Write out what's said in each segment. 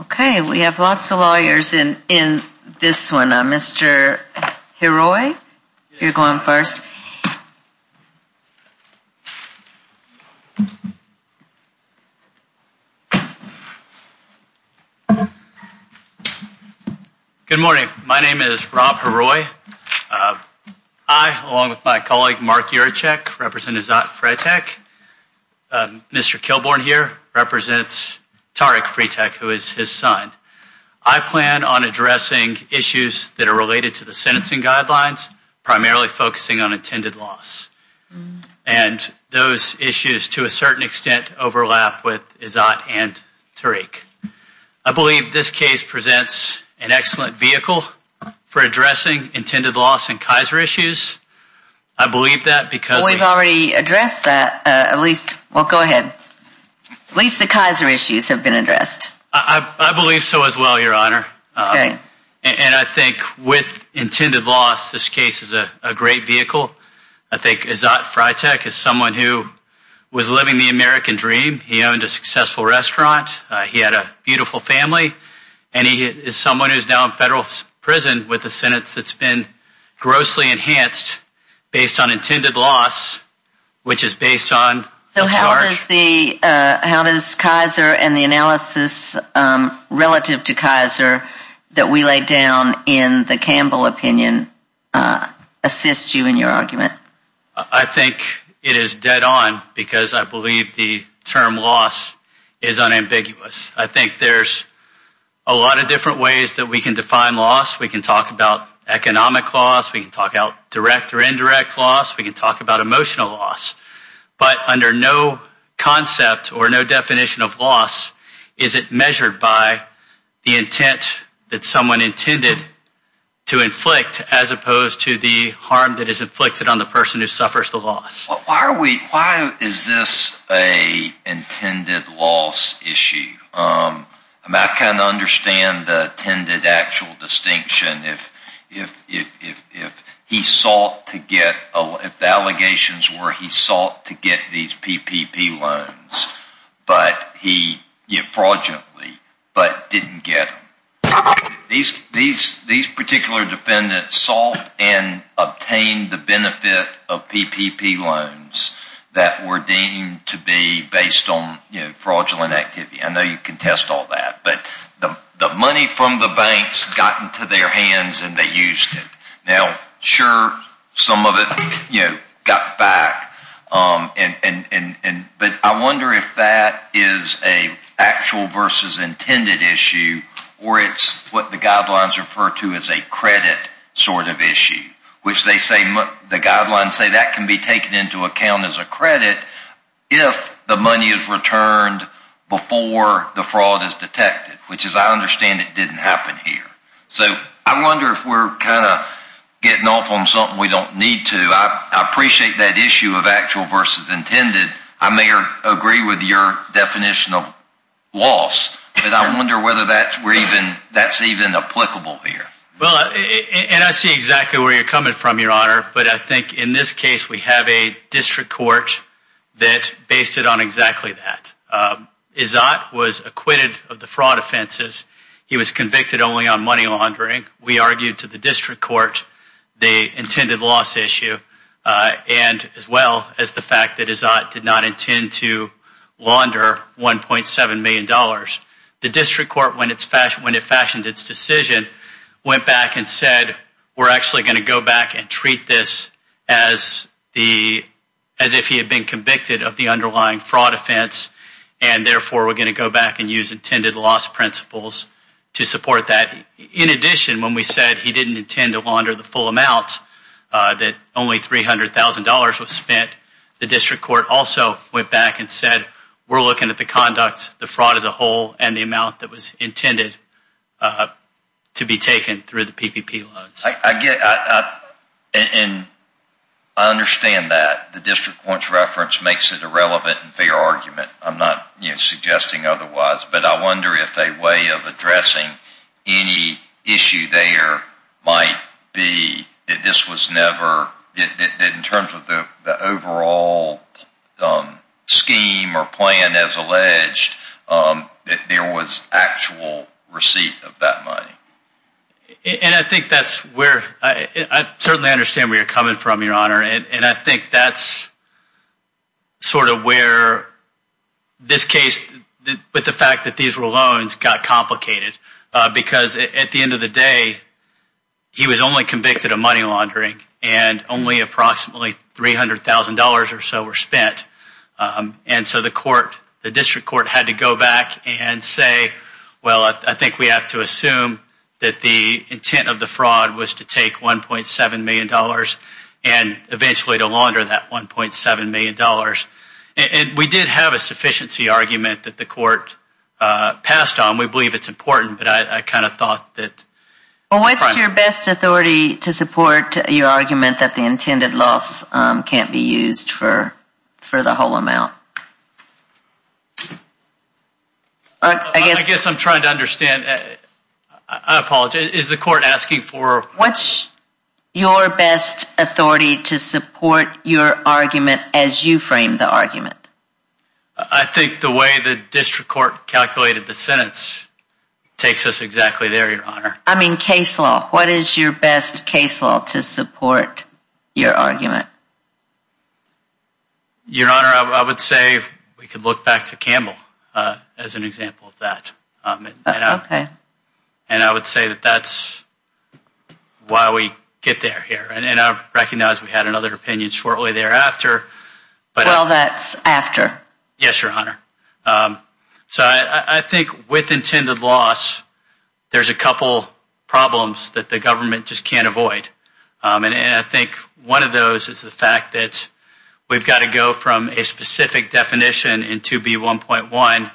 Okay, we have lots of lawyers in this one. Mr. Heroy, you're going first. Good morning. My name is Rob Heroy. I, along with my colleague Mark Urechek, represent Izzat Freitekh. Mr. Kilborne here represents Tarek Freitekh, who is his son. I plan on addressing issues that are related to the sentencing guidelines, primarily focusing on intended loss. And those issues, to a certain extent, overlap with Izzat and Tarek. I believe this case presents an excellent vehicle for addressing intended loss and Kaiser issues. We've already addressed that. At least the Kaiser issues have been addressed. I believe so as well, Your Honor. And I think with intended loss, this case is a great vehicle. I think Izzat Freitekh is someone who was living the American dream. He owned a successful restaurant. He had a beautiful family. And he is someone who is now in federal prison with a sentence that's been grossly enhanced based on intended loss, which is based on a charge. So how does Kaiser and the analysis relative to Kaiser that we laid down in the Campbell opinion assist you in your argument? I think it is dead on because I believe the term loss is unambiguous. I think there's a lot of different ways that we can define loss. We can talk about economic loss. We can talk about direct or indirect loss. We can talk about emotional loss. But under no concept or no definition of loss is it measured by the intent that someone intended to inflict as opposed to the harm that is inflicted on the person who suffers the loss. Why is this an intended loss issue? I kind of understand the intended actual distinction if he sought to get, if the allegations were he sought to get these PPP loans fraudulently but didn't get them. These particular defendants sought and obtained the benefit of PPP loans that were deemed to be based on fraudulent activity. I know you can test all that. But the money from the banks got into their hands and they used it. Now, sure, some of it got back. But I wonder if that is an actual versus intended issue or it's what the guidelines refer to as a credit sort of issue, which the guidelines say that can be taken into account as a credit if the money is returned before the fraud is detected, which as I understand it didn't happen here. So I wonder if we're kind of getting off on something we don't need to. I appreciate that issue of actual versus intended. I may agree with your definition of loss. But I wonder whether that's even applicable here. Well, and I see exactly where you're coming from, Your Honor. But I think in this case we have a district court that based it on exactly that. Izzat was acquitted of the fraud offenses. He was convicted only on money laundering. We argued to the district court the intended loss issue as well as the fact that Izzat did not intend to launder $1.7 million. The district court, when it fashioned its decision, went back and said we're actually going to go back and treat this as if he had been convicted of the underlying fraud offense. And, therefore, we're going to go back and use intended loss principles to support that. In addition, when we said he didn't intend to launder the full amount, that only $300,000 was spent, the district court also went back and said we're looking at the conduct, the fraud as a whole, and the amount that was intended to be taken through the PPP loads. And I understand that. The district court's reference makes it a relevant and fair argument. I'm not suggesting otherwise. But I wonder if a way of addressing any issue there might be that this was never, in terms of the overall scheme or plan as alleged, that there was actual receipt of that money. And I think that's where, I certainly understand where you're coming from, Your Honor. And I think that's sort of where this case, with the fact that these were loans, got complicated. Because at the end of the day, he was only convicted of money laundering and only approximately $300,000 or so were spent. And so the court, the district court, had to go back and say, well, I think we have to assume that the intent of the fraud was to take $1.7 million. And eventually to launder that $1.7 million. And we did have a sufficiency argument that the court passed on. We believe it's important. But I kind of thought that... Well, what's your best authority to support your argument that the intended loss can't be used for the whole amount? I guess I'm trying to understand. I apologize. Is the court asking for... What's your best authority to support your argument as you frame the argument? I think the way the district court calculated the sentence takes us exactly there, Your Honor. I mean, case law. What is your best case law to support your argument? Your Honor, I would say we could look back to Campbell as an example of that. Okay. And I would say that that's why we get there here. And I recognize we had another opinion shortly thereafter. Well, that's after. Yes, Your Honor. So I think with intended loss, there's a couple problems that the government just can't avoid. And I think one of those is the fact that we've got to go from a specific definition in 2B1.1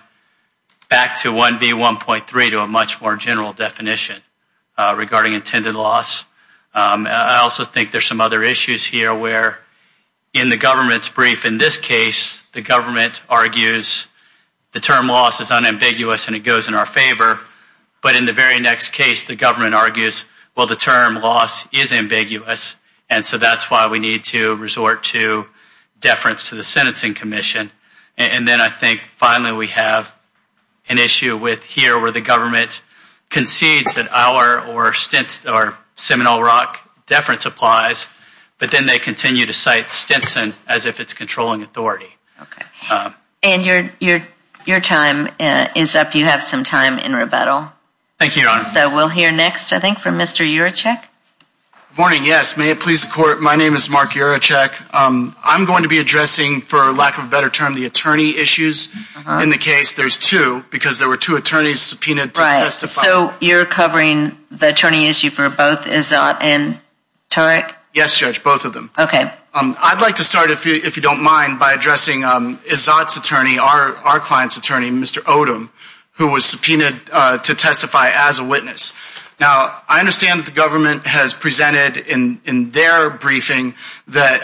back to 1B1.3, to a much more general definition regarding intended loss. I also think there's some other issues here where in the government's brief, in this case, the government argues the term loss is unambiguous and it goes in our favor. But in the very next case, the government argues, well, the term loss is ambiguous, and so that's why we need to resort to deference to the sentencing commission. And then I think finally we have an issue with here where the government concedes that our or Stinson or Seminole Rock deference applies, but then they continue to cite Stinson as if it's controlling authority. Okay. And your time is up. I hope you have some time in rebuttal. Thank you, Your Honor. So we'll hear next, I think, from Mr. Urechek. Good morning, yes. May it please the Court, my name is Mark Urechek. I'm going to be addressing, for lack of a better term, the attorney issues in the case. There's two because there were two attorneys subpoenaed to testify. Right. So you're covering the attorney issue for both Izzat and Turek? Yes, Judge, both of them. Okay. I'd like to start, if you don't mind, by addressing Izzat's attorney, our client's attorney, Mr. Odom, who was subpoenaed to testify as a witness. Now, I understand that the government has presented in their briefing that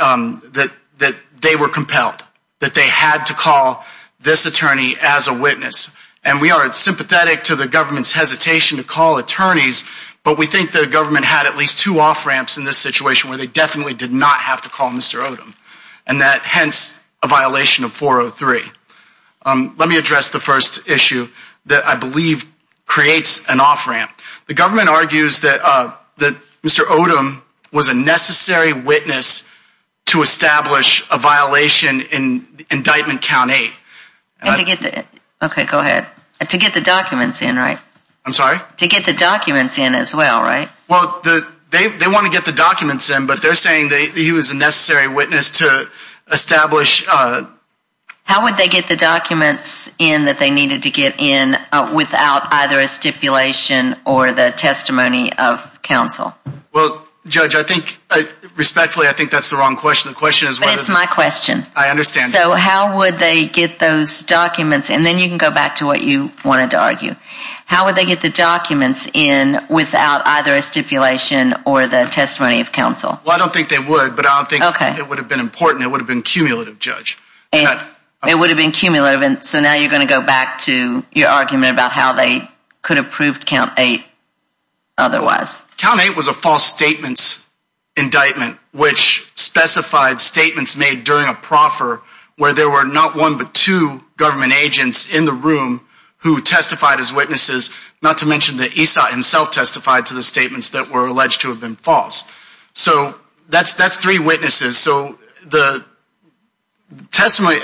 they were compelled, that they had to call this attorney as a witness, and we are sympathetic to the government's hesitation to call attorneys, but we think the government had at least two off ramps in this situation where they definitely did not have to call Mr. Odom, and that, hence, a violation of 403. Let me address the first issue that I believe creates an off ramp. The government argues that Mr. Odom was a necessary witness to establish a violation in Indictment Count 8. Okay, go ahead. To get the documents in, right? I'm sorry? To get the documents in as well, right? Well, they want to get the documents in, but they're saying that he was a necessary witness to establish... How would they get the documents in that they needed to get in without either a stipulation or the testimony of counsel? Well, Judge, I think, respectfully, I think that's the wrong question. The question is whether... But it's my question. I understand. So how would they get those documents, and then you can go back to what you wanted to argue. How would they get the documents in without either a stipulation or the testimony of counsel? Well, I don't think they would, but I don't think it would have been important. It would have been cumulative, Judge. It would have been cumulative, and so now you're going to go back to your argument about how they could have proved Count 8 otherwise. Count 8 was a false statements indictment which specified statements made during a proffer where there were not one but two government agents in the room who testified as witnesses, not to mention that Esau himself testified to the statements that were alleged to have been false. So that's three witnesses. So the testimony...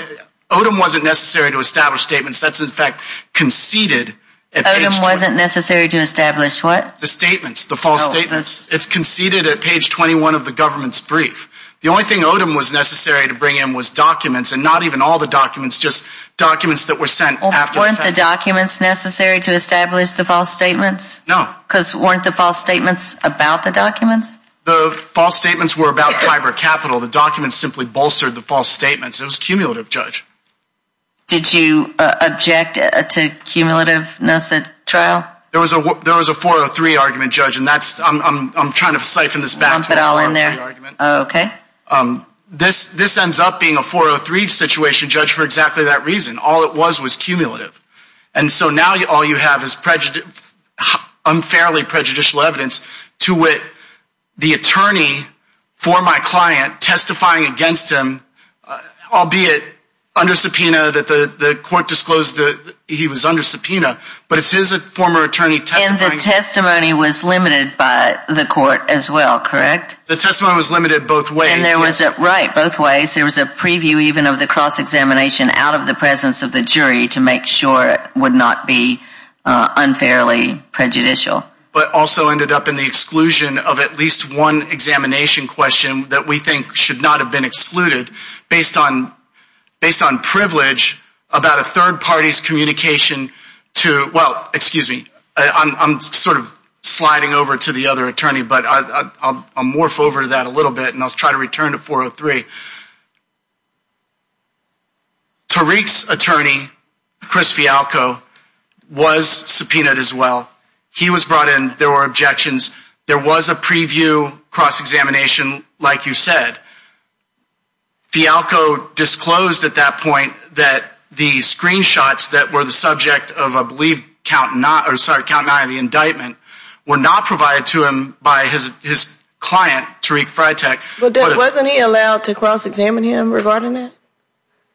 Odom wasn't necessary to establish statements. That's, in fact, conceded... Odom wasn't necessary to establish what? The statements, the false statements. It's conceded at page 21 of the government's brief. The only thing Odom was necessary to bring in was documents, and not even all the documents, just documents that were sent after... Weren't the documents necessary to establish the false statements? No. Because weren't the false statements about the documents? The false statements were about fiber capital. The documents simply bolstered the false statements. It was cumulative, Judge. Did you object to cumulativeness at trial? There was a 403 argument, Judge, and that's... I'm trying to siphon this back to a 403 argument. Okay. This ends up being a 403 situation, Judge, for exactly that reason. All it was was cumulative. And so now all you have is unfairly prejudicial evidence to wit the attorney for my client testifying against him, albeit under subpoena that the court disclosed that he was under subpoena. But it's his former attorney testifying... And the testimony was limited by the court as well, correct? The testimony was limited both ways. And there was a... right, both ways. There was a preview even of the cross-examination out of the presence of the jury to make sure it would not be unfairly prejudicial. But also ended up in the exclusion of at least one examination question that we think should not have been excluded based on privilege about a third party's communication to... Well, excuse me. I'm sort of sliding over to the other attorney, but I'll morph over to that a little bit, and I'll try to return to 403. Tariq's attorney, Chris Fialco, was subpoenaed as well. He was brought in. There were objections. There was a preview cross-examination, like you said. Fialco disclosed at that point that the screenshots that were the subject of a believed count not... or, sorry, count not in the indictment were not provided to him by his client, Tariq Freitag. But wasn't he allowed to cross-examine him regarding that?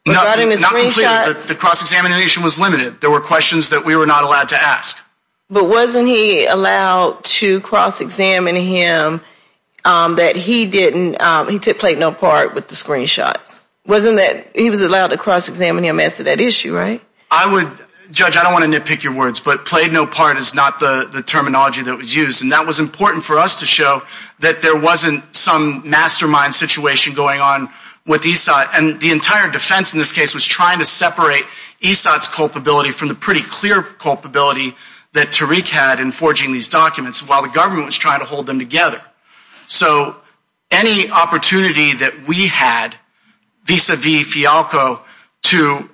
Regarding his screenshots? Not completely. The cross-examination was limited. There were questions that we were not allowed to ask. But wasn't he allowed to cross-examine him that he didn't... he played no part with the screenshots? Wasn't that... he was allowed to cross-examine him as to that issue, right? I would... Judge, I don't want to nitpick your words, but played no part is not the terminology that was used. And that was important for us to show that there wasn't some mastermind situation going on with Esau. And the entire defense in this case was trying to separate Esau's culpability from the pretty clear culpability that Tariq had in forging these documents, while the government was trying to hold them together. So, any opportunity that we had vis-à-vis Fialco to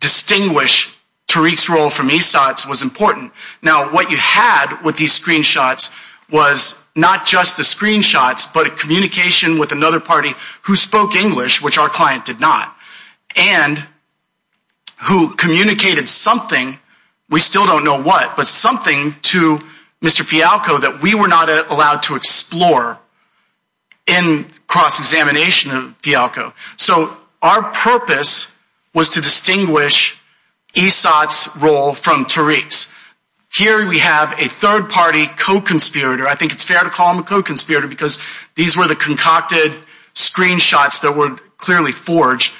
distinguish Tariq's role from Esau's was important. Now, what you had with these screenshots was not just the screenshots, but a communication with another party who spoke English, which our client did not. And who communicated something, we still don't know what, but something to Mr. Fialco that we were not allowed to explore in cross-examination of Fialco. So, our purpose was to distinguish Esau's role from Tariq's. Here we have a third-party co-conspirator, I think it's fair to call him a co-conspirator because these were the concocted screenshots that were clearly forged,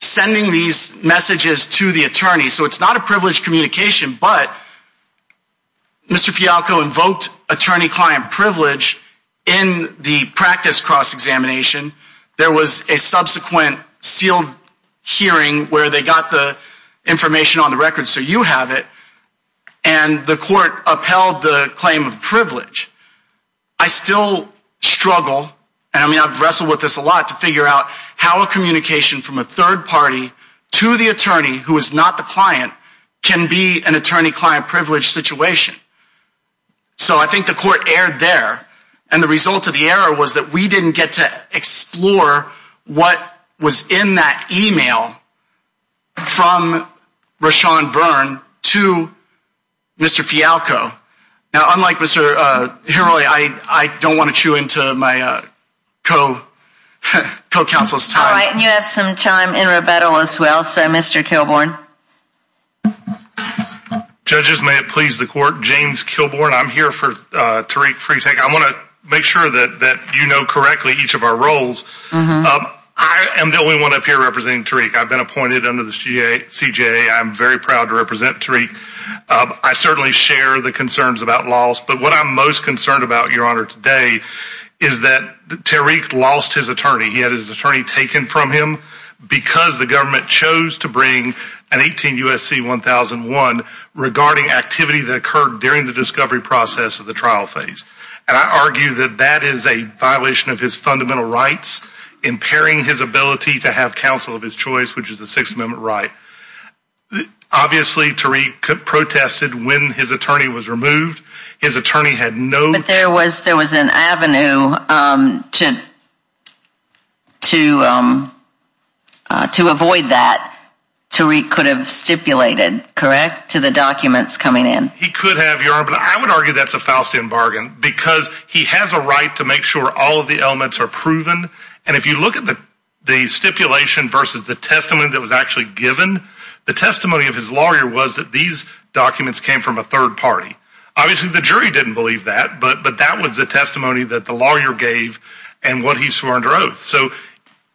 sending these messages to the attorney. So, it's not a privileged communication, but Mr. Fialco invoked attorney-client privilege in the practice cross-examination. There was a subsequent sealed hearing where they got the information on the record so you have it, and the court upheld the claim of privilege. I still struggle, and I mean I've wrestled with this a lot, to figure out how a communication from a third party to the attorney, who is not the client, can be an attorney-client privilege situation. So, I think the court erred there, and the result of the error was that we didn't get to explore what was in that email from Rashawn Verne to Mr. Fialco. Now, unlike Mr. Himerly, I don't want to chew into my co-counsel's time. All right, and you have some time in rebuttal as well, so Mr. Kilbourn. Judges, may it please the court, James Kilbourn, I'm here for Tariq Freitag. I want to make sure that you know correctly each of our roles. I am the only one up here representing Tariq. I've been appointed under the CJA. I'm very proud to represent Tariq. I certainly share the concerns about loss, but what I'm most concerned about, Your Honor, today is that Tariq lost his attorney. He had his attorney taken from him because the government chose to bring an 18 U.S.C. 1001 regarding activity that occurred during the discovery process of the trial phase. And I argue that that is a violation of his fundamental rights, impairing his ability to have counsel of his choice, which is a Sixth Amendment right. Obviously, Tariq protested when his attorney was removed. But there was an avenue to avoid that. Tariq could have stipulated, correct, to the documents coming in. He could have, Your Honor, but I would argue that's a Faustian bargain because he has a right to make sure all of the elements are proven. And if you look at the stipulation versus the testimony that was actually given, the testimony of his lawyer was that these documents came from a third party. Obviously, the jury didn't believe that, but that was the testimony that the lawyer gave and what he swore under oath. So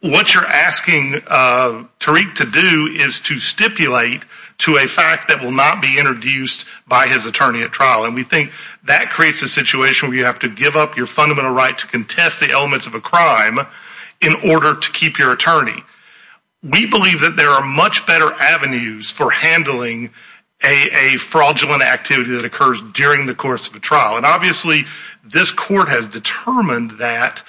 what you're asking Tariq to do is to stipulate to a fact that will not be introduced by his attorney at trial. And we think that creates a situation where you have to give up your fundamental right to contest the elements of a crime in order to keep your attorney. We believe that there are much better avenues for handling a fraudulent activity that occurs during the course of a trial. And obviously, this court has determined that.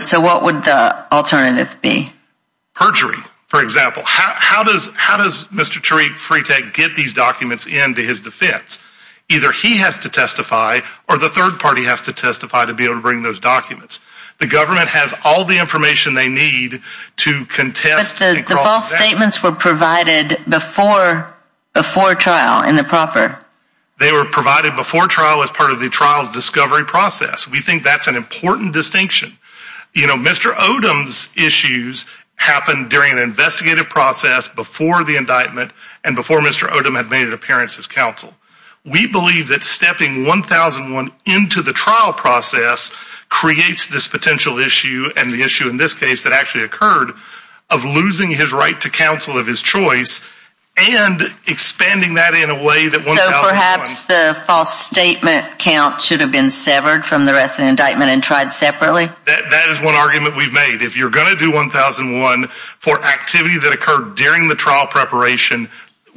So what would the alternative be? Perjury, for example. How does Mr. Tariq Freitag get these documents into his defense? Either he has to testify or the third party has to testify to be able to bring those documents. The government has all the information they need to contest. But the false statements were provided before trial in the proffer. They were provided before trial as part of the trial's discovery process. We think that's an important distinction. You know, Mr. Odom's issues happened during an investigative process before the indictment and before Mr. Odom had made an appearance as counsel. We believe that stepping 1001 into the trial process creates this potential issue and the issue in this case that actually occurred of losing his right to counsel of his choice and expanding that in a way that 1001. So perhaps the false statement count should have been severed from the rest of the indictment and tried separately? That is one argument we've made. If you're going to do 1001 for activity that occurred during the trial preparation,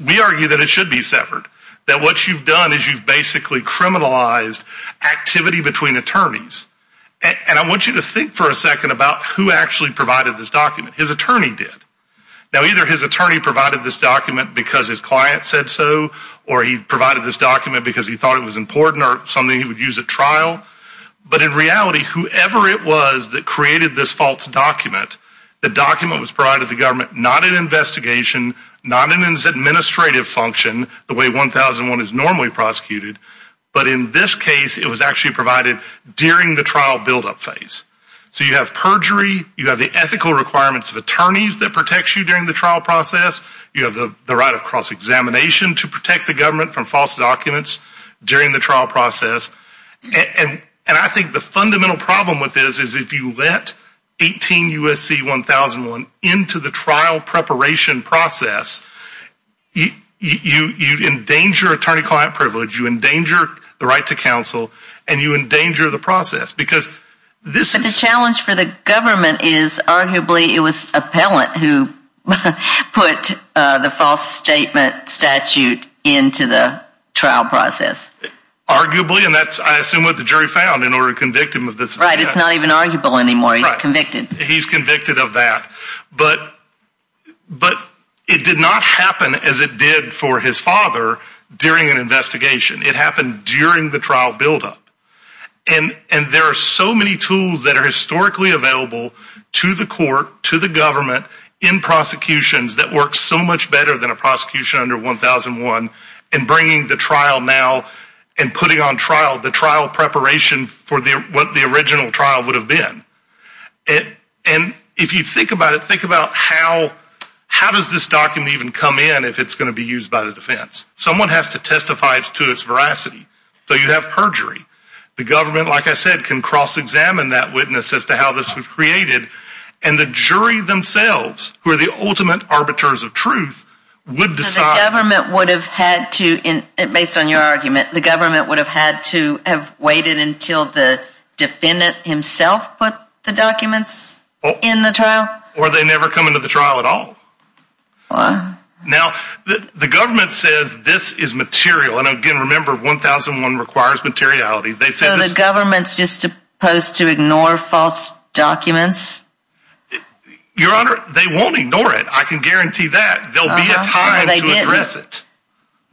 we argue that it should be severed. That what you've done is you've basically criminalized activity between attorneys. And I want you to think for a second about who actually provided this document. His attorney did. Now either his attorney provided this document because his client said so or he provided this document because he thought it was important or something he would use at trial. But in reality, whoever it was that created this false document, the document was provided to the government not in investigation, not in its administrative function the way 1001 is normally prosecuted. But in this case, it was actually provided during the trial buildup phase. So you have perjury. You have the ethical requirements of attorneys that protects you during the trial process. You have the right of cross-examination to protect the government from false documents during the trial process. And I think the fundamental problem with this is if you let 18 U.S.C. 1001 into the trial preparation process, you endanger attorney-client privilege. You endanger the right to counsel. And you endanger the process. Because this is... But the challenge for the government is arguably it was appellant who put the false statement statute into the trial process. Arguably. And that's, I assume, what the jury found in order to convict him of this. Right. It's not even arguable anymore. He's convicted. He's convicted of that. But it did not happen as it did for his father during an investigation. It happened during the trial buildup. And there are so many tools that are historically available to the court, to the government, in prosecutions that work so much better than a prosecution under 1001. And bringing the trial now and putting on trial the trial preparation for what the original trial would have been. And if you think about it, think about how does this document even come in if it's going to be used by the defense? Someone has to testify to its veracity. So you have perjury. The government, like I said, can cross-examine that witness as to how this was created. And the jury themselves, who are the ultimate arbiters of truth, would decide... So the government would have had to, based on your argument, the government would have had to have waited until the defendant himself put the documents in the trial? Or they never come into the trial at all. Wow. Now, the government says this is material. And again, remember, 1001 requires materiality. So the government's just supposed to ignore false documents? Your Honor, they won't ignore it. I can guarantee that. There will be a time to address it.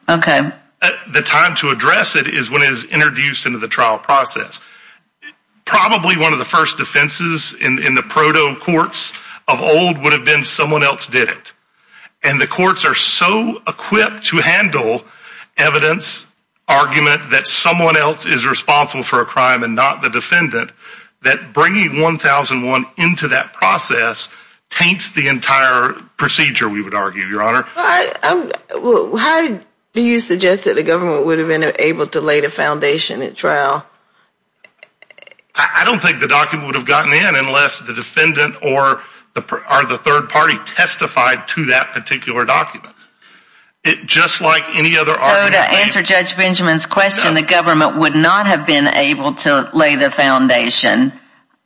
Okay. The time to address it is when it is introduced into the trial process. Probably one of the first defenses in the proto-courts of old would have been someone else did it. And the courts are so equipped to handle evidence, argument, that someone else is responsible for a crime and not the defendant, that bringing 1001 into that process taints the entire procedure, we would argue, Your Honor. How do you suggest that the government would have been able to lay the foundation at trial? I don't think the document would have gotten in unless the defendant or the third party testified to that particular document. Just like any other argument. So to answer Judge Benjamin's question, the government would not have been able to lay the foundation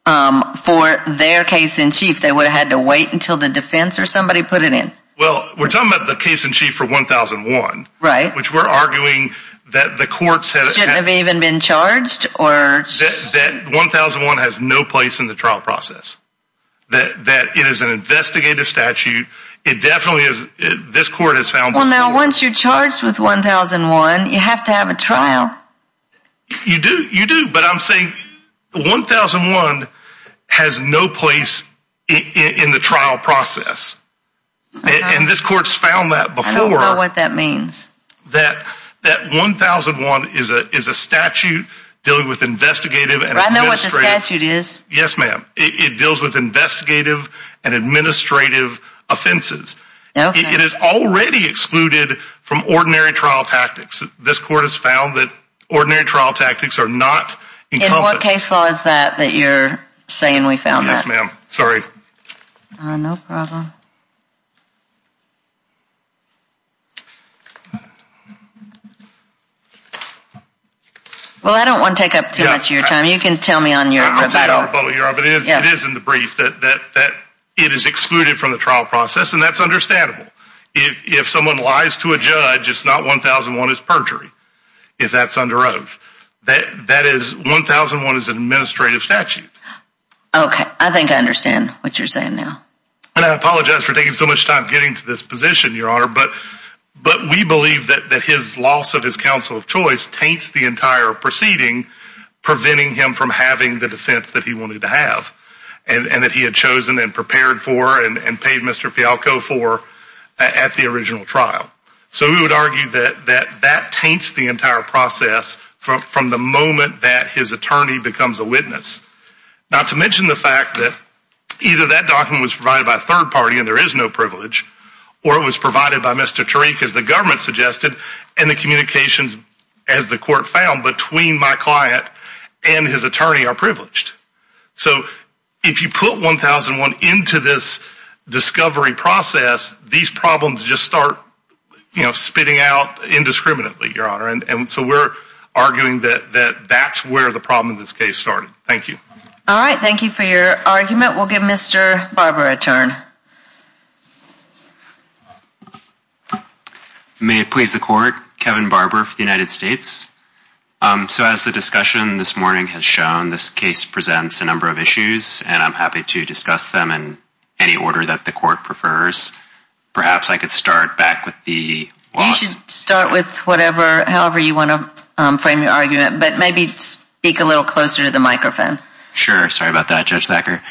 for their case-in-chief. They would have had to wait until the defense or somebody put it in. Well, we're talking about the case-in-chief for 1001. Right. Which we're arguing that the courts had a chance. That 1001 has no place in the trial process. That it is an investigative statute. It definitely is. This court has found... Well, now, once you're charged with 1001, you have to have a trial. You do. You do. But I'm saying 1001 has no place in the trial process. And this court's found that before. I don't know what that means. That 1001 is a statute dealing with investigative and administrative... I know what the statute is. Yes, ma'am. It deals with investigative and administrative offenses. It is already excluded from ordinary trial tactics. This court has found that ordinary trial tactics are not encompassed... In what case law is that that you're saying we found that? Yes, ma'am. Sorry. No problem. Well, I don't want to take up too much of your time. You can tell me on your... It is in the brief that it is excluded from the trial process. And that's understandable. If someone lies to a judge, it's not 1001 is perjury. If that's under oath. That is, 1001 is an administrative statute. Okay. I think I understand what you're saying now. And I apologize for taking so much time getting to this position, Your Honor. But we believe that his loss of his counsel of choice taints the entire proceeding... Preventing him from having the defense that he wanted to have. And that he had chosen and prepared for and paid Mr. Fialco for at the original trial. So we would argue that that taints the entire process from the moment that his attorney becomes a witness. Not to mention the fact that either that document was provided by a third party and there is no privilege... Or it was provided by Mr. Tariq as the government suggested. And the communications, as the court found, between my client and his attorney are privileged. So if you put 1001 into this discovery process, these problems just start spitting out indiscriminately, Your Honor. And so we're arguing that that's where the problem in this case started. Thank you. All right. Thank you for your argument. We'll give Mr. Barber a turn. May it please the court, Kevin Barber for the United States. So as the discussion this morning has shown, this case presents a number of issues. And I'm happy to discuss them in any order that the court prefers. Perhaps I could start back with the loss... You should start with whatever, however you want to frame your argument. But maybe speak a little closer to the microphone. Sure. Sorry about that, Judge Thacker.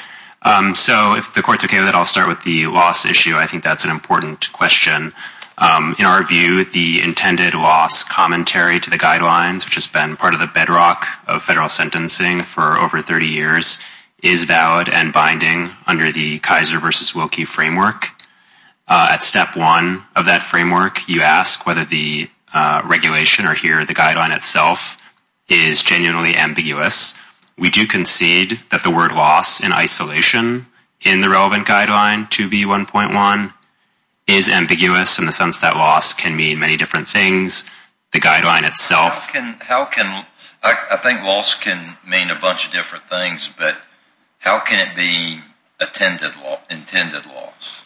So if the court's okay with it, I'll start with the loss issue. I think that's an important question. In our view, the intended loss commentary to the guidelines, which has been part of the bedrock of federal sentencing for over 30 years, is valid and binding under the Kaiser v. Wilkie framework. At step one of that framework, you ask whether the regulation or here the guideline itself is genuinely ambiguous. We do concede that the word loss in isolation in the relevant guideline, 2B1.1, is ambiguous in the sense that loss can mean many different things. The guideline itself... How can... I think loss can mean a bunch of different things, but how can it be intended loss?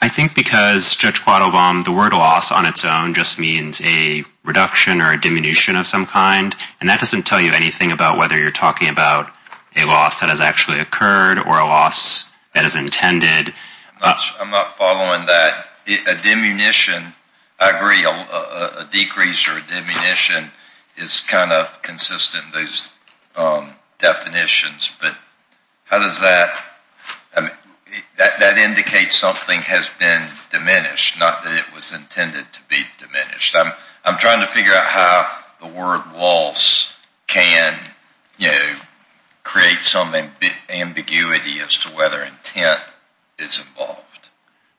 I think because, Judge Quattlebaum, the word loss on its own just means a reduction or a diminution of some kind. And that doesn't tell you anything about whether you're talking about a loss that has actually occurred or a loss that is intended. I'm not following that. A diminution, I agree, a decrease or a diminution is kind of consistent, those definitions. But how does that... That indicates something has been diminished, not that it was intended to be diminished. I'm trying to figure out how the word loss can create some ambiguity as to whether intent is involved.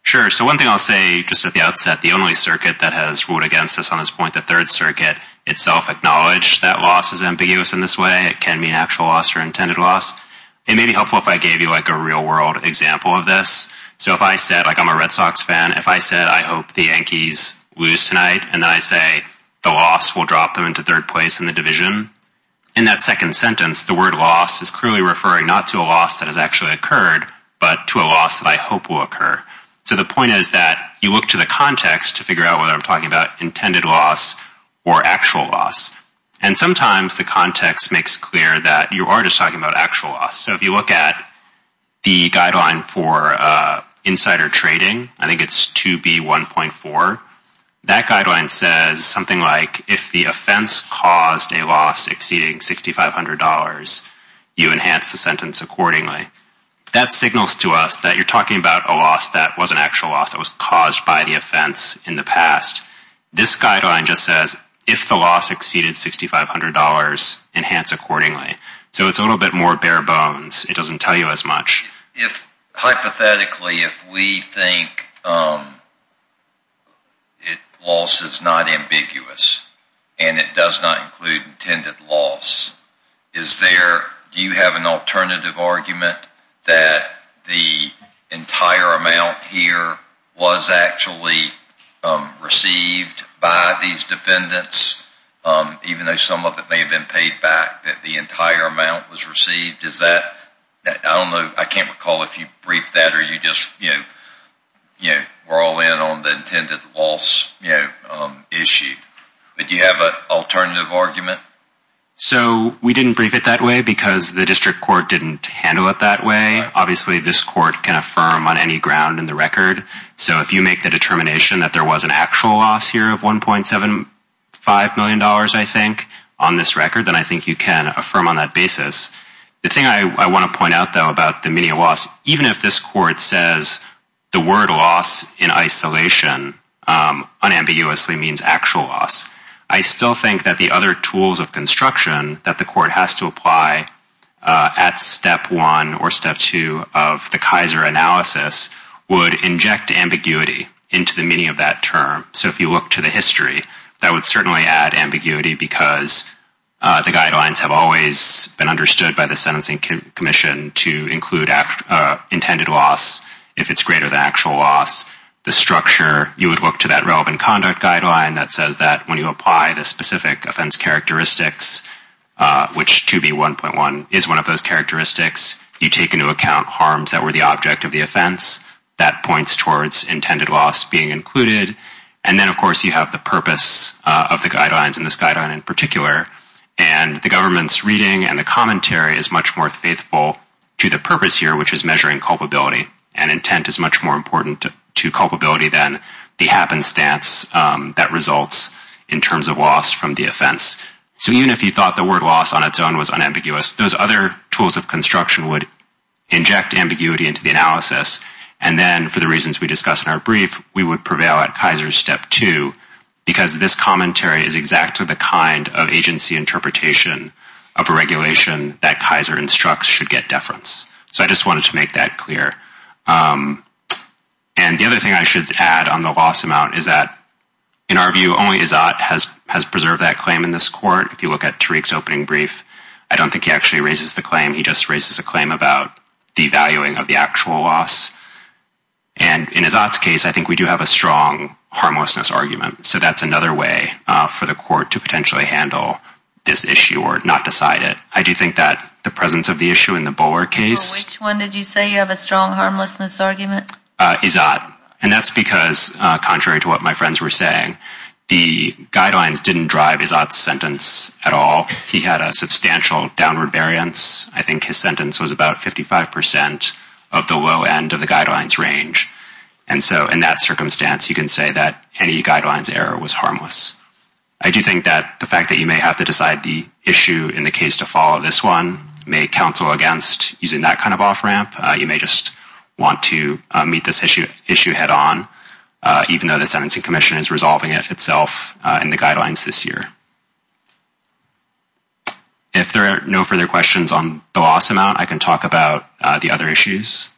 Sure. So one thing I'll say just at the outset, the only circuit that has ruled against this on this point, the Third Circuit, itself acknowledged that loss is ambiguous in this way. It can mean actual loss or intended loss. It may be helpful if I gave you a real-world example of this. So if I said, like I'm a Red Sox fan, if I said, I hope the Yankees lose tonight, and then I say, the loss will drop them into third place in the division. In that second sentence, the word loss is clearly referring not to a loss that has actually occurred, but to a loss that I hope will occur. So the point is that you look to the context to figure out whether I'm talking about intended loss or actual loss. And sometimes the context makes clear that you are just talking about actual loss. So if you look at the guideline for insider trading, I think it's 2B1.4, that guideline says something like, if the offense caused a loss exceeding $6,500, you enhance the sentence accordingly. That signals to us that you're talking about a loss that was an actual loss that was caused by the offense in the past. This guideline just says, if the loss exceeded $6,500, enhance accordingly. So it's a little bit more bare bones. It doesn't tell you as much. Hypothetically, if we think loss is not ambiguous and it does not include intended loss, do you have an alternative argument that the entire amount here was actually received by these defendants, even though some of it may have been paid back, that the entire amount was received? I can't recall if you briefed that or you just were all in on the intended loss issue. But do you have an alternative argument? So we didn't brief it that way because the district court didn't handle it that way. Obviously, this court can affirm on any ground in the record. So if you make the determination that there was an actual loss here of $1.75 million, I think, on this record, then I think you can affirm on that basis. The thing I want to point out, though, about the meaning of loss, even if this court says the word loss in isolation unambiguously means actual loss, I still think that the other tools of construction that the court has to apply at step one or step two of the Kaiser analysis would inject ambiguity into the meaning of that term. So if you look to the history, that would certainly add ambiguity because the guidelines have always been understood by the Sentencing Commission to include intended loss if it's greater than actual loss. The structure, you would look to that relevant conduct guideline that says that when you apply the specific offense characteristics, which 2B1.1 is one of those characteristics, you take into account harms that were the object of the offense. That points towards intended loss being included. And then, of course, you have the purpose of the guidelines in this guideline in particular. And the government's reading and the commentary is much more faithful to the purpose here, which is measuring culpability. And intent is much more important to culpability than the happenstance that results in terms of loss from the offense. So even if you thought the word loss on its own was unambiguous, those other tools of construction would inject ambiguity into the analysis. And then for the reasons we discussed in our brief, we would prevail at Kaiser's step two because this commentary is exactly the kind of agency interpretation of a regulation that Kaiser instructs should get deference. So I just wanted to make that clear. And the other thing I should add on the loss amount is that, in our view, only Izzat has preserved that claim in this court. If you look at Tariq's opening brief, I don't think he actually raises the claim. He just raises a claim about devaluing of the actual loss. And in Izzat's case, I think we do have a strong harmlessness argument. So that's another way for the court to potentially handle this issue or not decide it. I do think that the presence of the issue in the Bullard case... Which one did you say you have a strong harmlessness argument? Izzat. And that's because, contrary to what my friends were saying, the guidelines didn't drive Izzat's sentence at all. He had a substantial downward variance. I think his sentence was about 55% of the low end of the guidelines range. And so in that circumstance, you can say that any guidelines error was harmless. I do think that the fact that you may have to decide the issue in the case to follow this one may counsel against using that kind of off-ramp. You may just want to meet this issue head-on, even though the Sentencing Commission is resolving it itself in the guidelines this year. If there are no further questions on the loss amount, I can talk about the other issues.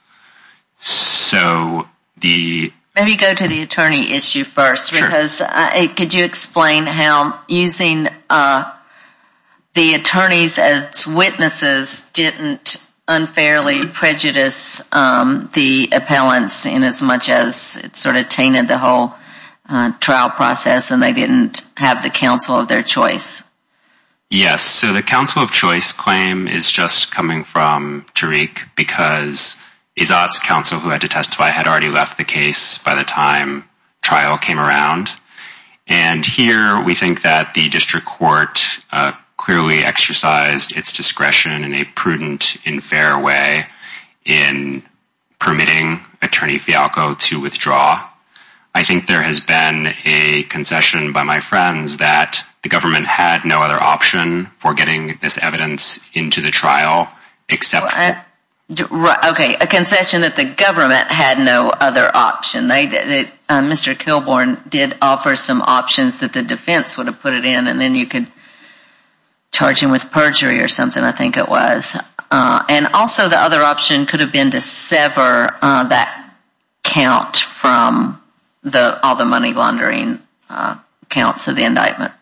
Maybe go to the attorney issue first. Could you explain how using the attorneys as witnesses didn't unfairly prejudice the appellants in as much as it sort of tainted the whole trial process and they didn't have the counsel of their choice? Yes, so the counsel of choice claim is just coming from Tariq because Izzat's counsel, who had to testify, had already left the case by the time trial came around. And here we think that the district court clearly exercised its discretion in a prudent, unfair way in permitting Attorney Fialco to withdraw. I think there has been a concession by my friends that the government had no other option for getting this evidence into the trial except for... Okay, a concession that the government had no other option. Mr. Kilbourne did offer some options that the defense would have put it in and then you could charge him with perjury or something, I think it was. And also the other option could have been to sever that count from all the money laundering counts of the indictment.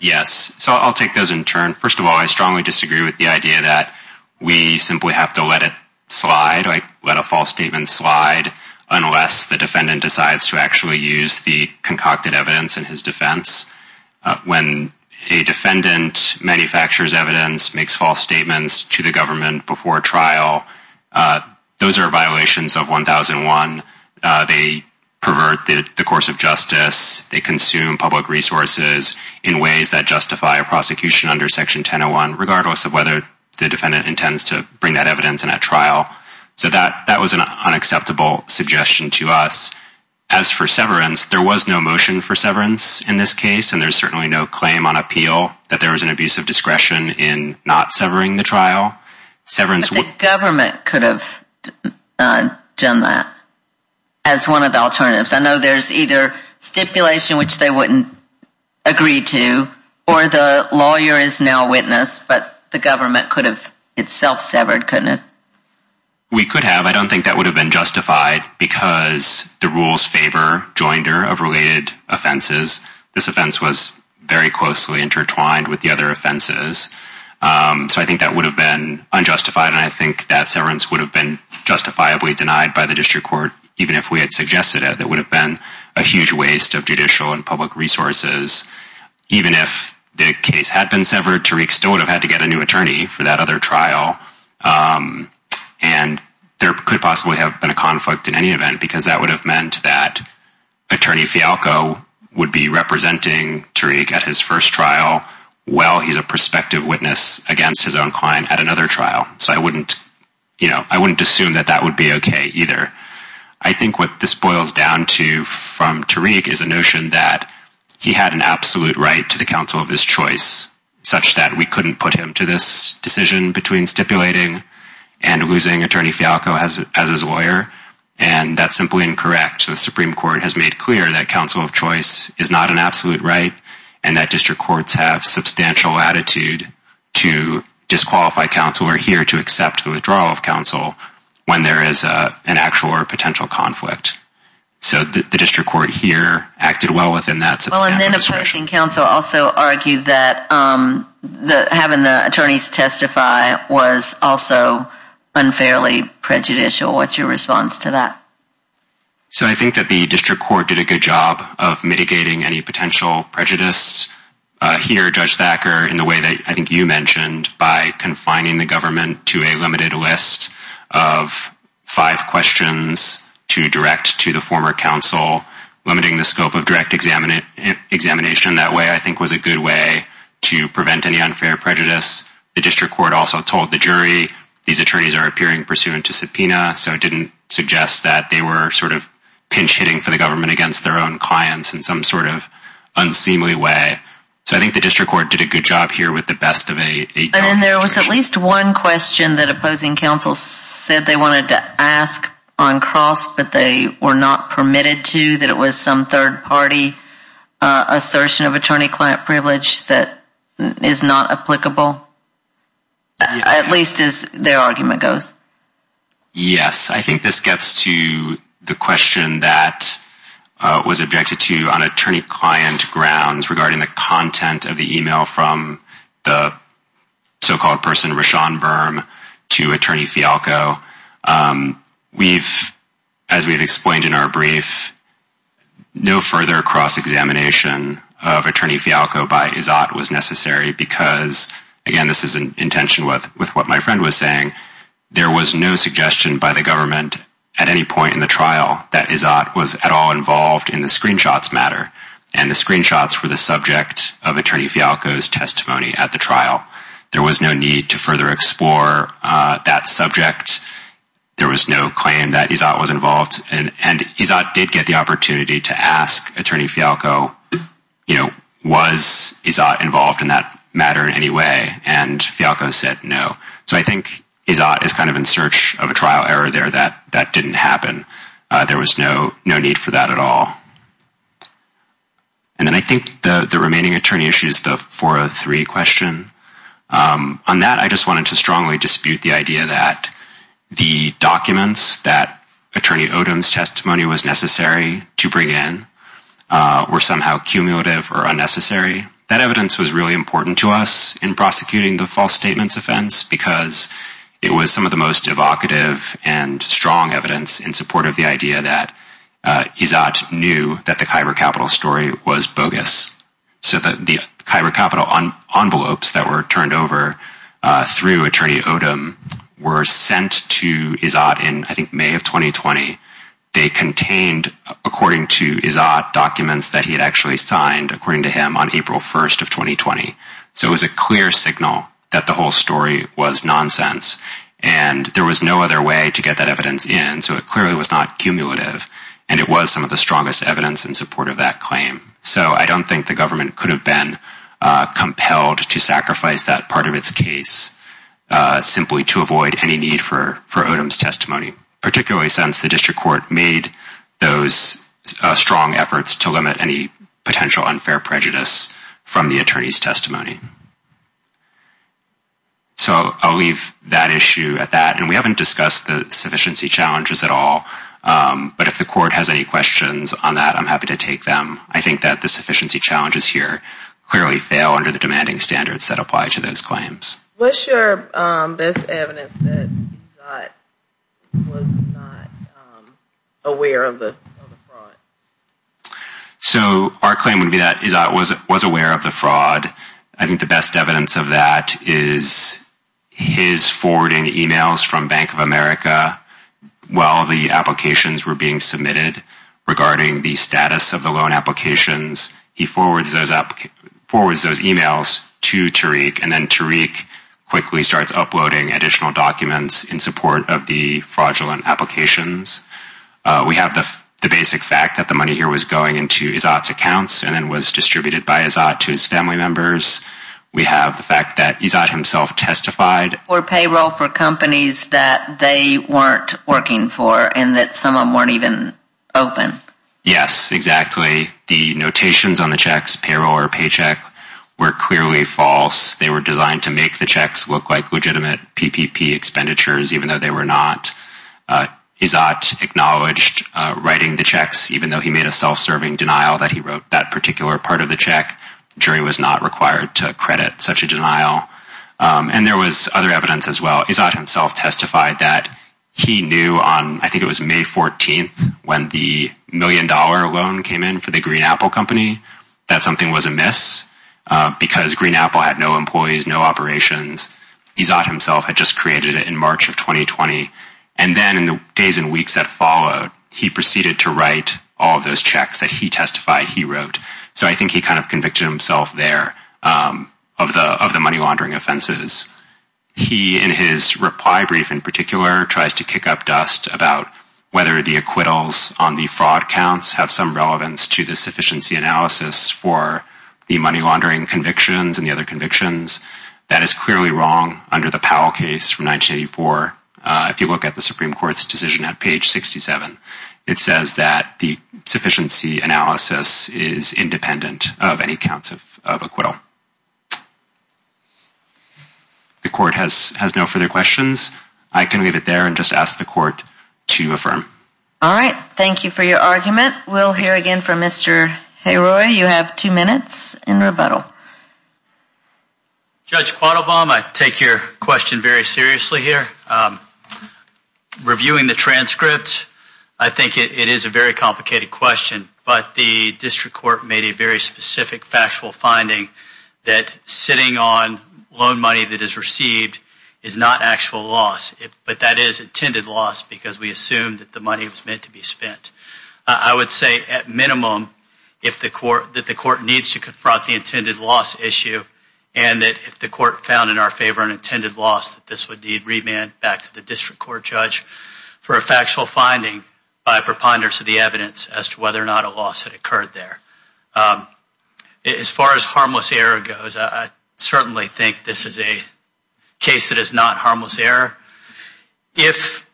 Yes, so I'll take those in turn. First of all, I strongly disagree with the idea that we simply have to let it slide, let a false statement slide, unless the defendant decides to actually use the concocted evidence in his defense. When a defendant manufactures evidence, makes false statements to the government before trial, those are violations of 1001. They pervert the course of justice, they consume public resources in ways that justify a prosecution under Section 1001, regardless of whether the defendant intends to bring that evidence in at trial. So that was an unacceptable suggestion to us. As for severance, there was no motion for severance in this case, and there's certainly no claim on appeal that there was an abuse of discretion in not severing the trial. But the government could have done that as one of the alternatives. I know there's either stipulation which they wouldn't agree to, or the lawyer is now a witness, but the government could have itself severed, couldn't it? We could have. I don't think that would have been justified, because the rules favor joinder of related offenses. This offense was very closely intertwined with the other offenses. So I think that would have been unjustified, and I think that severance would have been justifiably denied by the district court, even if we had suggested it. It would have been a huge waste of judicial and public resources. Even if the case had been severed, Tariq still would have had to get a new attorney for that other trial, and there could possibly have been a conflict in any event, because that would have meant that Attorney Fialco would be representing Tariq at his first trial, while he's a prospective witness against his own client at another trial. So I wouldn't assume that that would be okay, either. I think what this boils down to from Tariq is a notion that he had an absolute right to the counsel of his choice, such that we couldn't put him to this decision between stipulating and losing Attorney Fialco as his lawyer, and that's simply incorrect. The Supreme Court has made clear that counsel of choice is not an absolute right, and that district courts have substantial latitude to disqualify counsel or here to accept the withdrawal of counsel when there is an actual or potential conflict. So the district court here acted well within that substantial discretion. Well, and then a person in counsel also argued that having the attorneys testify was also unfairly prejudicial. What's your response to that? So I think that the district court did a good job of mitigating any potential prejudice here, Judge Thacker, in the way that I think you mentioned, by confining the government to a limited list of five questions to direct to the former counsel. Limiting the scope of direct examination that way, I think, was a good way to prevent any unfair prejudice. The district court also told the jury these attorneys are appearing pursuant to subpoena, so it didn't suggest that they were sort of pinch-hitting for the government against their own clients in some sort of unseemly way. So I think the district court did a good job here with the best of a— And then there was at least one question that opposing counsel said they wanted to ask on cross, but they were not permitted to, that it was some third-party assertion of attorney-client privilege that is not applicable, at least as their argument goes. Yes, I think this gets to the question that was objected to on attorney-client grounds regarding the content of the email from the so-called person, to Attorney Fialco. We've, as we've explained in our brief, no further cross-examination of Attorney Fialco by Izzat was necessary, because, again, this is in tension with what my friend was saying, there was no suggestion by the government at any point in the trial that Izzat was at all involved in the screenshots matter, and the screenshots were the subject of Attorney Fialco's testimony at the trial. There was no need to further explore that subject. There was no claim that Izzat was involved. And Izzat did get the opportunity to ask Attorney Fialco, you know, was Izzat involved in that matter in any way? And Fialco said no. So I think Izzat is kind of in search of a trial error there that didn't happen. There was no need for that at all. And then I think the remaining attorney issue is the 403 question. On that, I just wanted to strongly dispute the idea that the documents that Attorney Odom's testimony was necessary to bring in were somehow cumulative or unnecessary. That evidence was really important to us in prosecuting the false statements offense, because it was some of the most evocative and strong evidence in support of the idea that Izzat knew that the Kyber Capital story was bogus. So the Kyber Capital envelopes that were turned over through Attorney Odom were sent to Izzat in, I think, May of 2020. They contained, according to Izzat, documents that he had actually signed, according to him, on April 1st of 2020. So it was a clear signal that the whole story was nonsense. And there was no other way to get that evidence in, so it clearly was not cumulative. And it was some of the strongest evidence in support of that claim. So I don't think the government could have been compelled to sacrifice that part of its case simply to avoid any need for Odom's testimony, particularly since the district court made those strong efforts to limit any potential unfair prejudice from the attorney's testimony. So I'll leave that issue at that. And we haven't discussed the sufficiency challenges at all. But if the court has any questions on that, I'm happy to take them. I think that the sufficiency challenges here clearly fail under the demanding standards that apply to those claims. What's your best evidence that Izzat was not aware of the fraud? So our claim would be that Izzat was aware of the fraud. I think the best evidence of that is his forwarding emails from Bank of America while the applications were being submitted regarding the status of the loan applications. He forwards those emails to Tariq, and then Tariq quickly starts uploading additional documents in support of the fraudulent applications. We have the basic fact that the money here was going into Izzat's accounts and then was distributed by Izzat to his family members. We have the fact that Izzat himself testified. Or payroll for companies that they weren't working for and that some of them weren't even open. Yes, exactly. The notations on the checks, payroll or paycheck, were clearly false. They were designed to make the checks look like legitimate PPP expenditures even though they were not. Izzat acknowledged writing the checks even though he made a self-serving denial that he wrote that particular part of the check. The jury was not required to credit such a denial. And there was other evidence as well. Izzat himself testified that he knew on, I think it was May 14th, when the million dollar loan came in for the Green Apple Company, that something was amiss. Because Green Apple had no employees, no operations. Izzat himself had just created it in March of 2020. And then in the days and weeks that followed, he proceeded to write all of those checks that he testified he wrote. So I think he kind of convicted himself there of the money laundering offenses. He, in his reply brief in particular, tries to kick up dust about whether the acquittals on the fraud counts have some relevance to the sufficiency analysis for the money laundering convictions and the other convictions. That is clearly wrong under the Powell case from 1984. If you look at the Supreme Court's decision at page 67, it says that the sufficiency analysis is independent of any counts of acquittal. The court has no further questions. I can leave it there and just ask the court to affirm. All right. Thank you for your argument. We'll hear again from Mr. Hayroy. You have two minutes in rebuttal. Judge Quattlebaum, I take your question very seriously here. Reviewing the transcript, I think it is a very complicated question. But the district court made a very specific factual finding that sitting on loan money that is received is not actual loss, but that is intended loss because we assumed that the money was meant to be spent. I would say at minimum that the court needs to confront the intended loss issue and that if the court found in our favor an intended loss, that this would need remand back to the district court judge for a factual finding by preponderance of the evidence as to whether or not a loss had occurred there. As far as harmless error goes, I certainly think this is a case that is not harmless error. If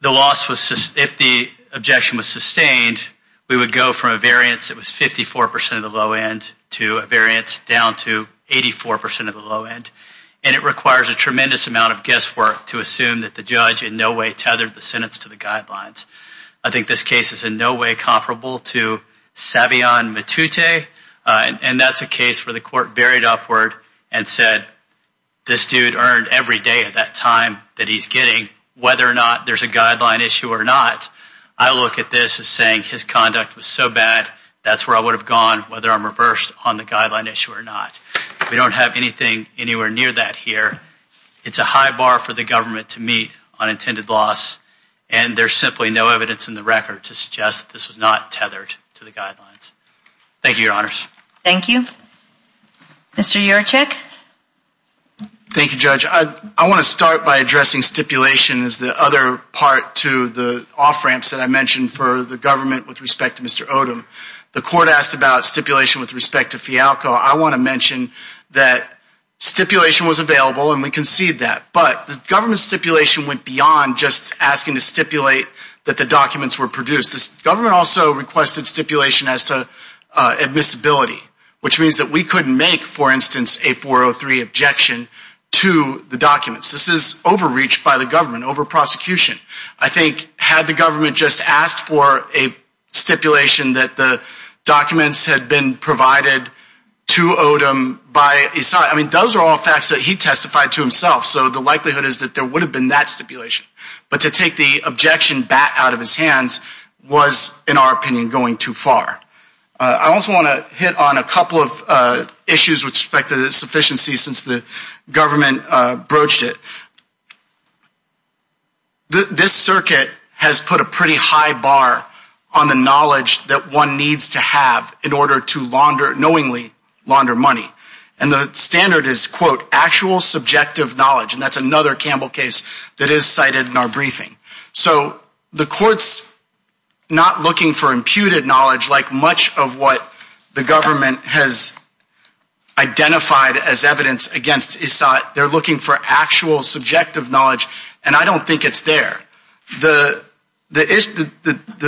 the objection was sustained, we would go from a variance that was 54% of the low end to a variance down to 84% of the low end. And it requires a tremendous amount of guesswork to assume that the judge in no way tethered the sentence to the guidelines. I think this case is in no way comparable to Savion Matute. And that's a case where the court buried upward and said this dude earned every day at that time that he's getting whether or not there's a guideline issue or not. I look at this as saying his conduct was so bad, that's where I would have gone whether I'm reversed on the guideline issue or not. We don't have anything anywhere near that here. It's a high bar for the government to meet on intended loss. And there's simply no evidence in the record to suggest that this was not tethered to the guidelines. Thank you, Your Honors. Thank you. Mr. Jurczyk. Thank you, Judge. I want to start by addressing stipulation as the other part to the off-ramps that I mentioned for the government with respect to Mr. Odom. The court asked about stipulation with respect to Fialco. I want to mention that stipulation was available and we concede that. But the government stipulation went beyond just asking to stipulate that the documents were produced. The government also requested stipulation as to admissibility, which means that we couldn't make, for instance, a 403 objection to the documents. This is overreach by the government, over prosecution. I think had the government just asked for a stipulation that the documents had been provided to Odom by his side, I mean, those are all facts that he testified to himself. So the likelihood is that there would have been that stipulation. But to take the objection back out of his hands was, in our opinion, going too far. I also want to hit on a couple of issues with respect to the sufficiency since the government broached it. This circuit has put a pretty high bar on the knowledge that one needs to have in order to knowingly launder money. And the standard is, quote, actual subjective knowledge. And that's another Campbell case that is cited in our briefing. So the court's not looking for imputed knowledge like much of what the government has identified as evidence against Isat. They're looking for actual subjective knowledge. And I don't think it's there. The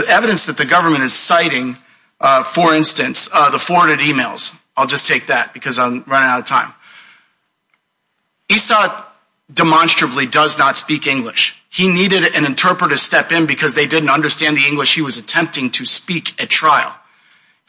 evidence that the government is citing, for instance, the forwarded emails. I'll just take that because I'm running out of time. Isat demonstrably does not speak English. He needed an interpreter to step in because they didn't understand the English he was attempting to speak at trial.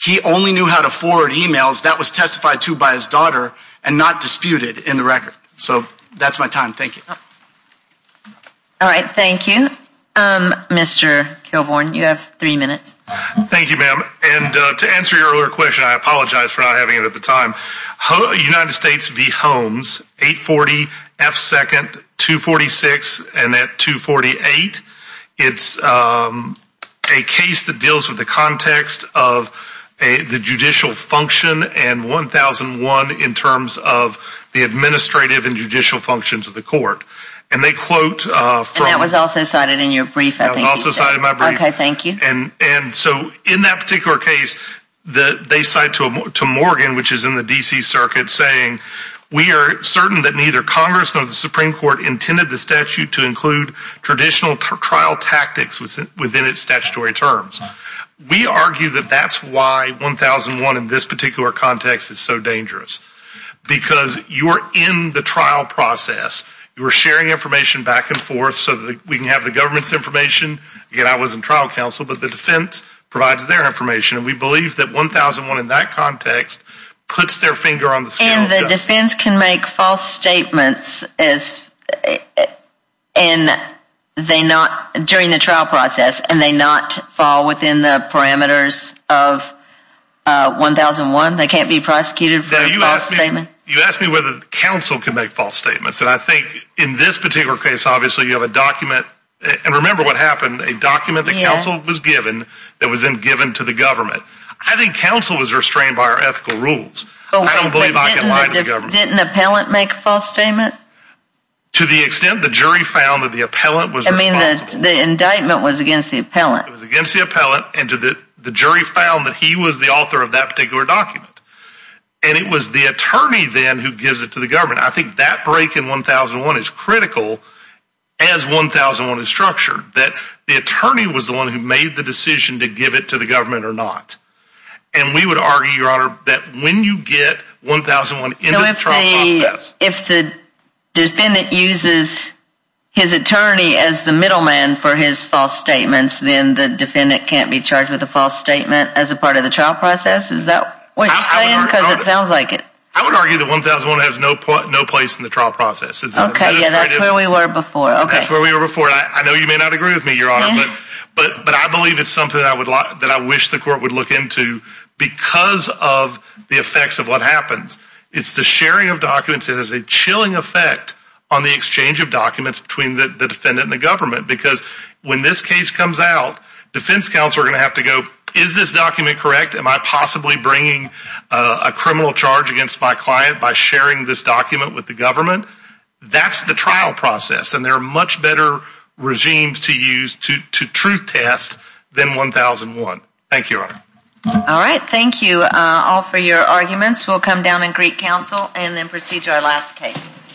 He only knew how to forward emails that was testified to by his daughter and not disputed in the record. So that's my time. Thank you. All right. Thank you. Mr. Kilbourn, you have three minutes. Thank you, ma'am. And to answer your earlier question, I apologize for not having it at the time. United States v. Holmes, 840 F. 2nd, 246 and at 248. It's a case that deals with the context of the judicial function and 1001 in terms of the administrative and judicial functions of the court. And they quote from. And that was also cited in your brief, I think. That was also cited in my brief. Okay. Thank you. And so in that particular case, they cite to Morgan, which is in the D.C. circuit, saying. We are certain that neither Congress nor the Supreme Court intended the statute to include traditional trial tactics within its statutory terms. We argue that that's why 1001 in this particular context is so dangerous. Because you are in the trial process. You are sharing information back and forth so that we can have the government's information. Again, I was in trial counsel. But the defense provides their information. And we believe that 1001 in that context puts their finger on the scale. And the defense can make false statements during the trial process. And they not fall within the parameters of 1001? They can't be prosecuted for a false statement? You asked me whether counsel can make false statements. And I think in this particular case, obviously, you have a document. And remember what happened. A document that counsel was given that was then given to the government. I think counsel was restrained by our ethical rules. I don't believe I can lie to the government. Didn't an appellant make a false statement? To the extent the jury found that the appellant was responsible. I mean, the indictment was against the appellant. It was against the appellant. And the jury found that he was the author of that particular document. And it was the attorney then who gives it to the government. I think that break in 1001 is critical as 1001 is structured. That the attorney was the one who made the decision to give it to the government or not. And we would argue, Your Honor, that when you get 1001 into the trial process. So if the defendant uses his attorney as the middleman for his false statements, then the defendant can't be charged with a false statement as a part of the trial process? Is that what you're saying? Because it sounds like it. I would argue that 1001 has no place in the trial process. Okay, yeah, that's where we were before. That's where we were before. I know you may not agree with me, Your Honor, but I believe it's something that I wish the court would look into because of the effects of what happens. It's the sharing of documents that has a chilling effect on the exchange of documents between the defendant and the government. Because when this case comes out, defense counsel are going to have to go, is this document correct? Am I possibly bringing a criminal charge against my client by sharing this document with the government? That's the trial process, and there are much better regimes to use to truth test than 1001. Thank you, Your Honor. All right, thank you all for your arguments. We'll come down and greet counsel and then proceed to our last case.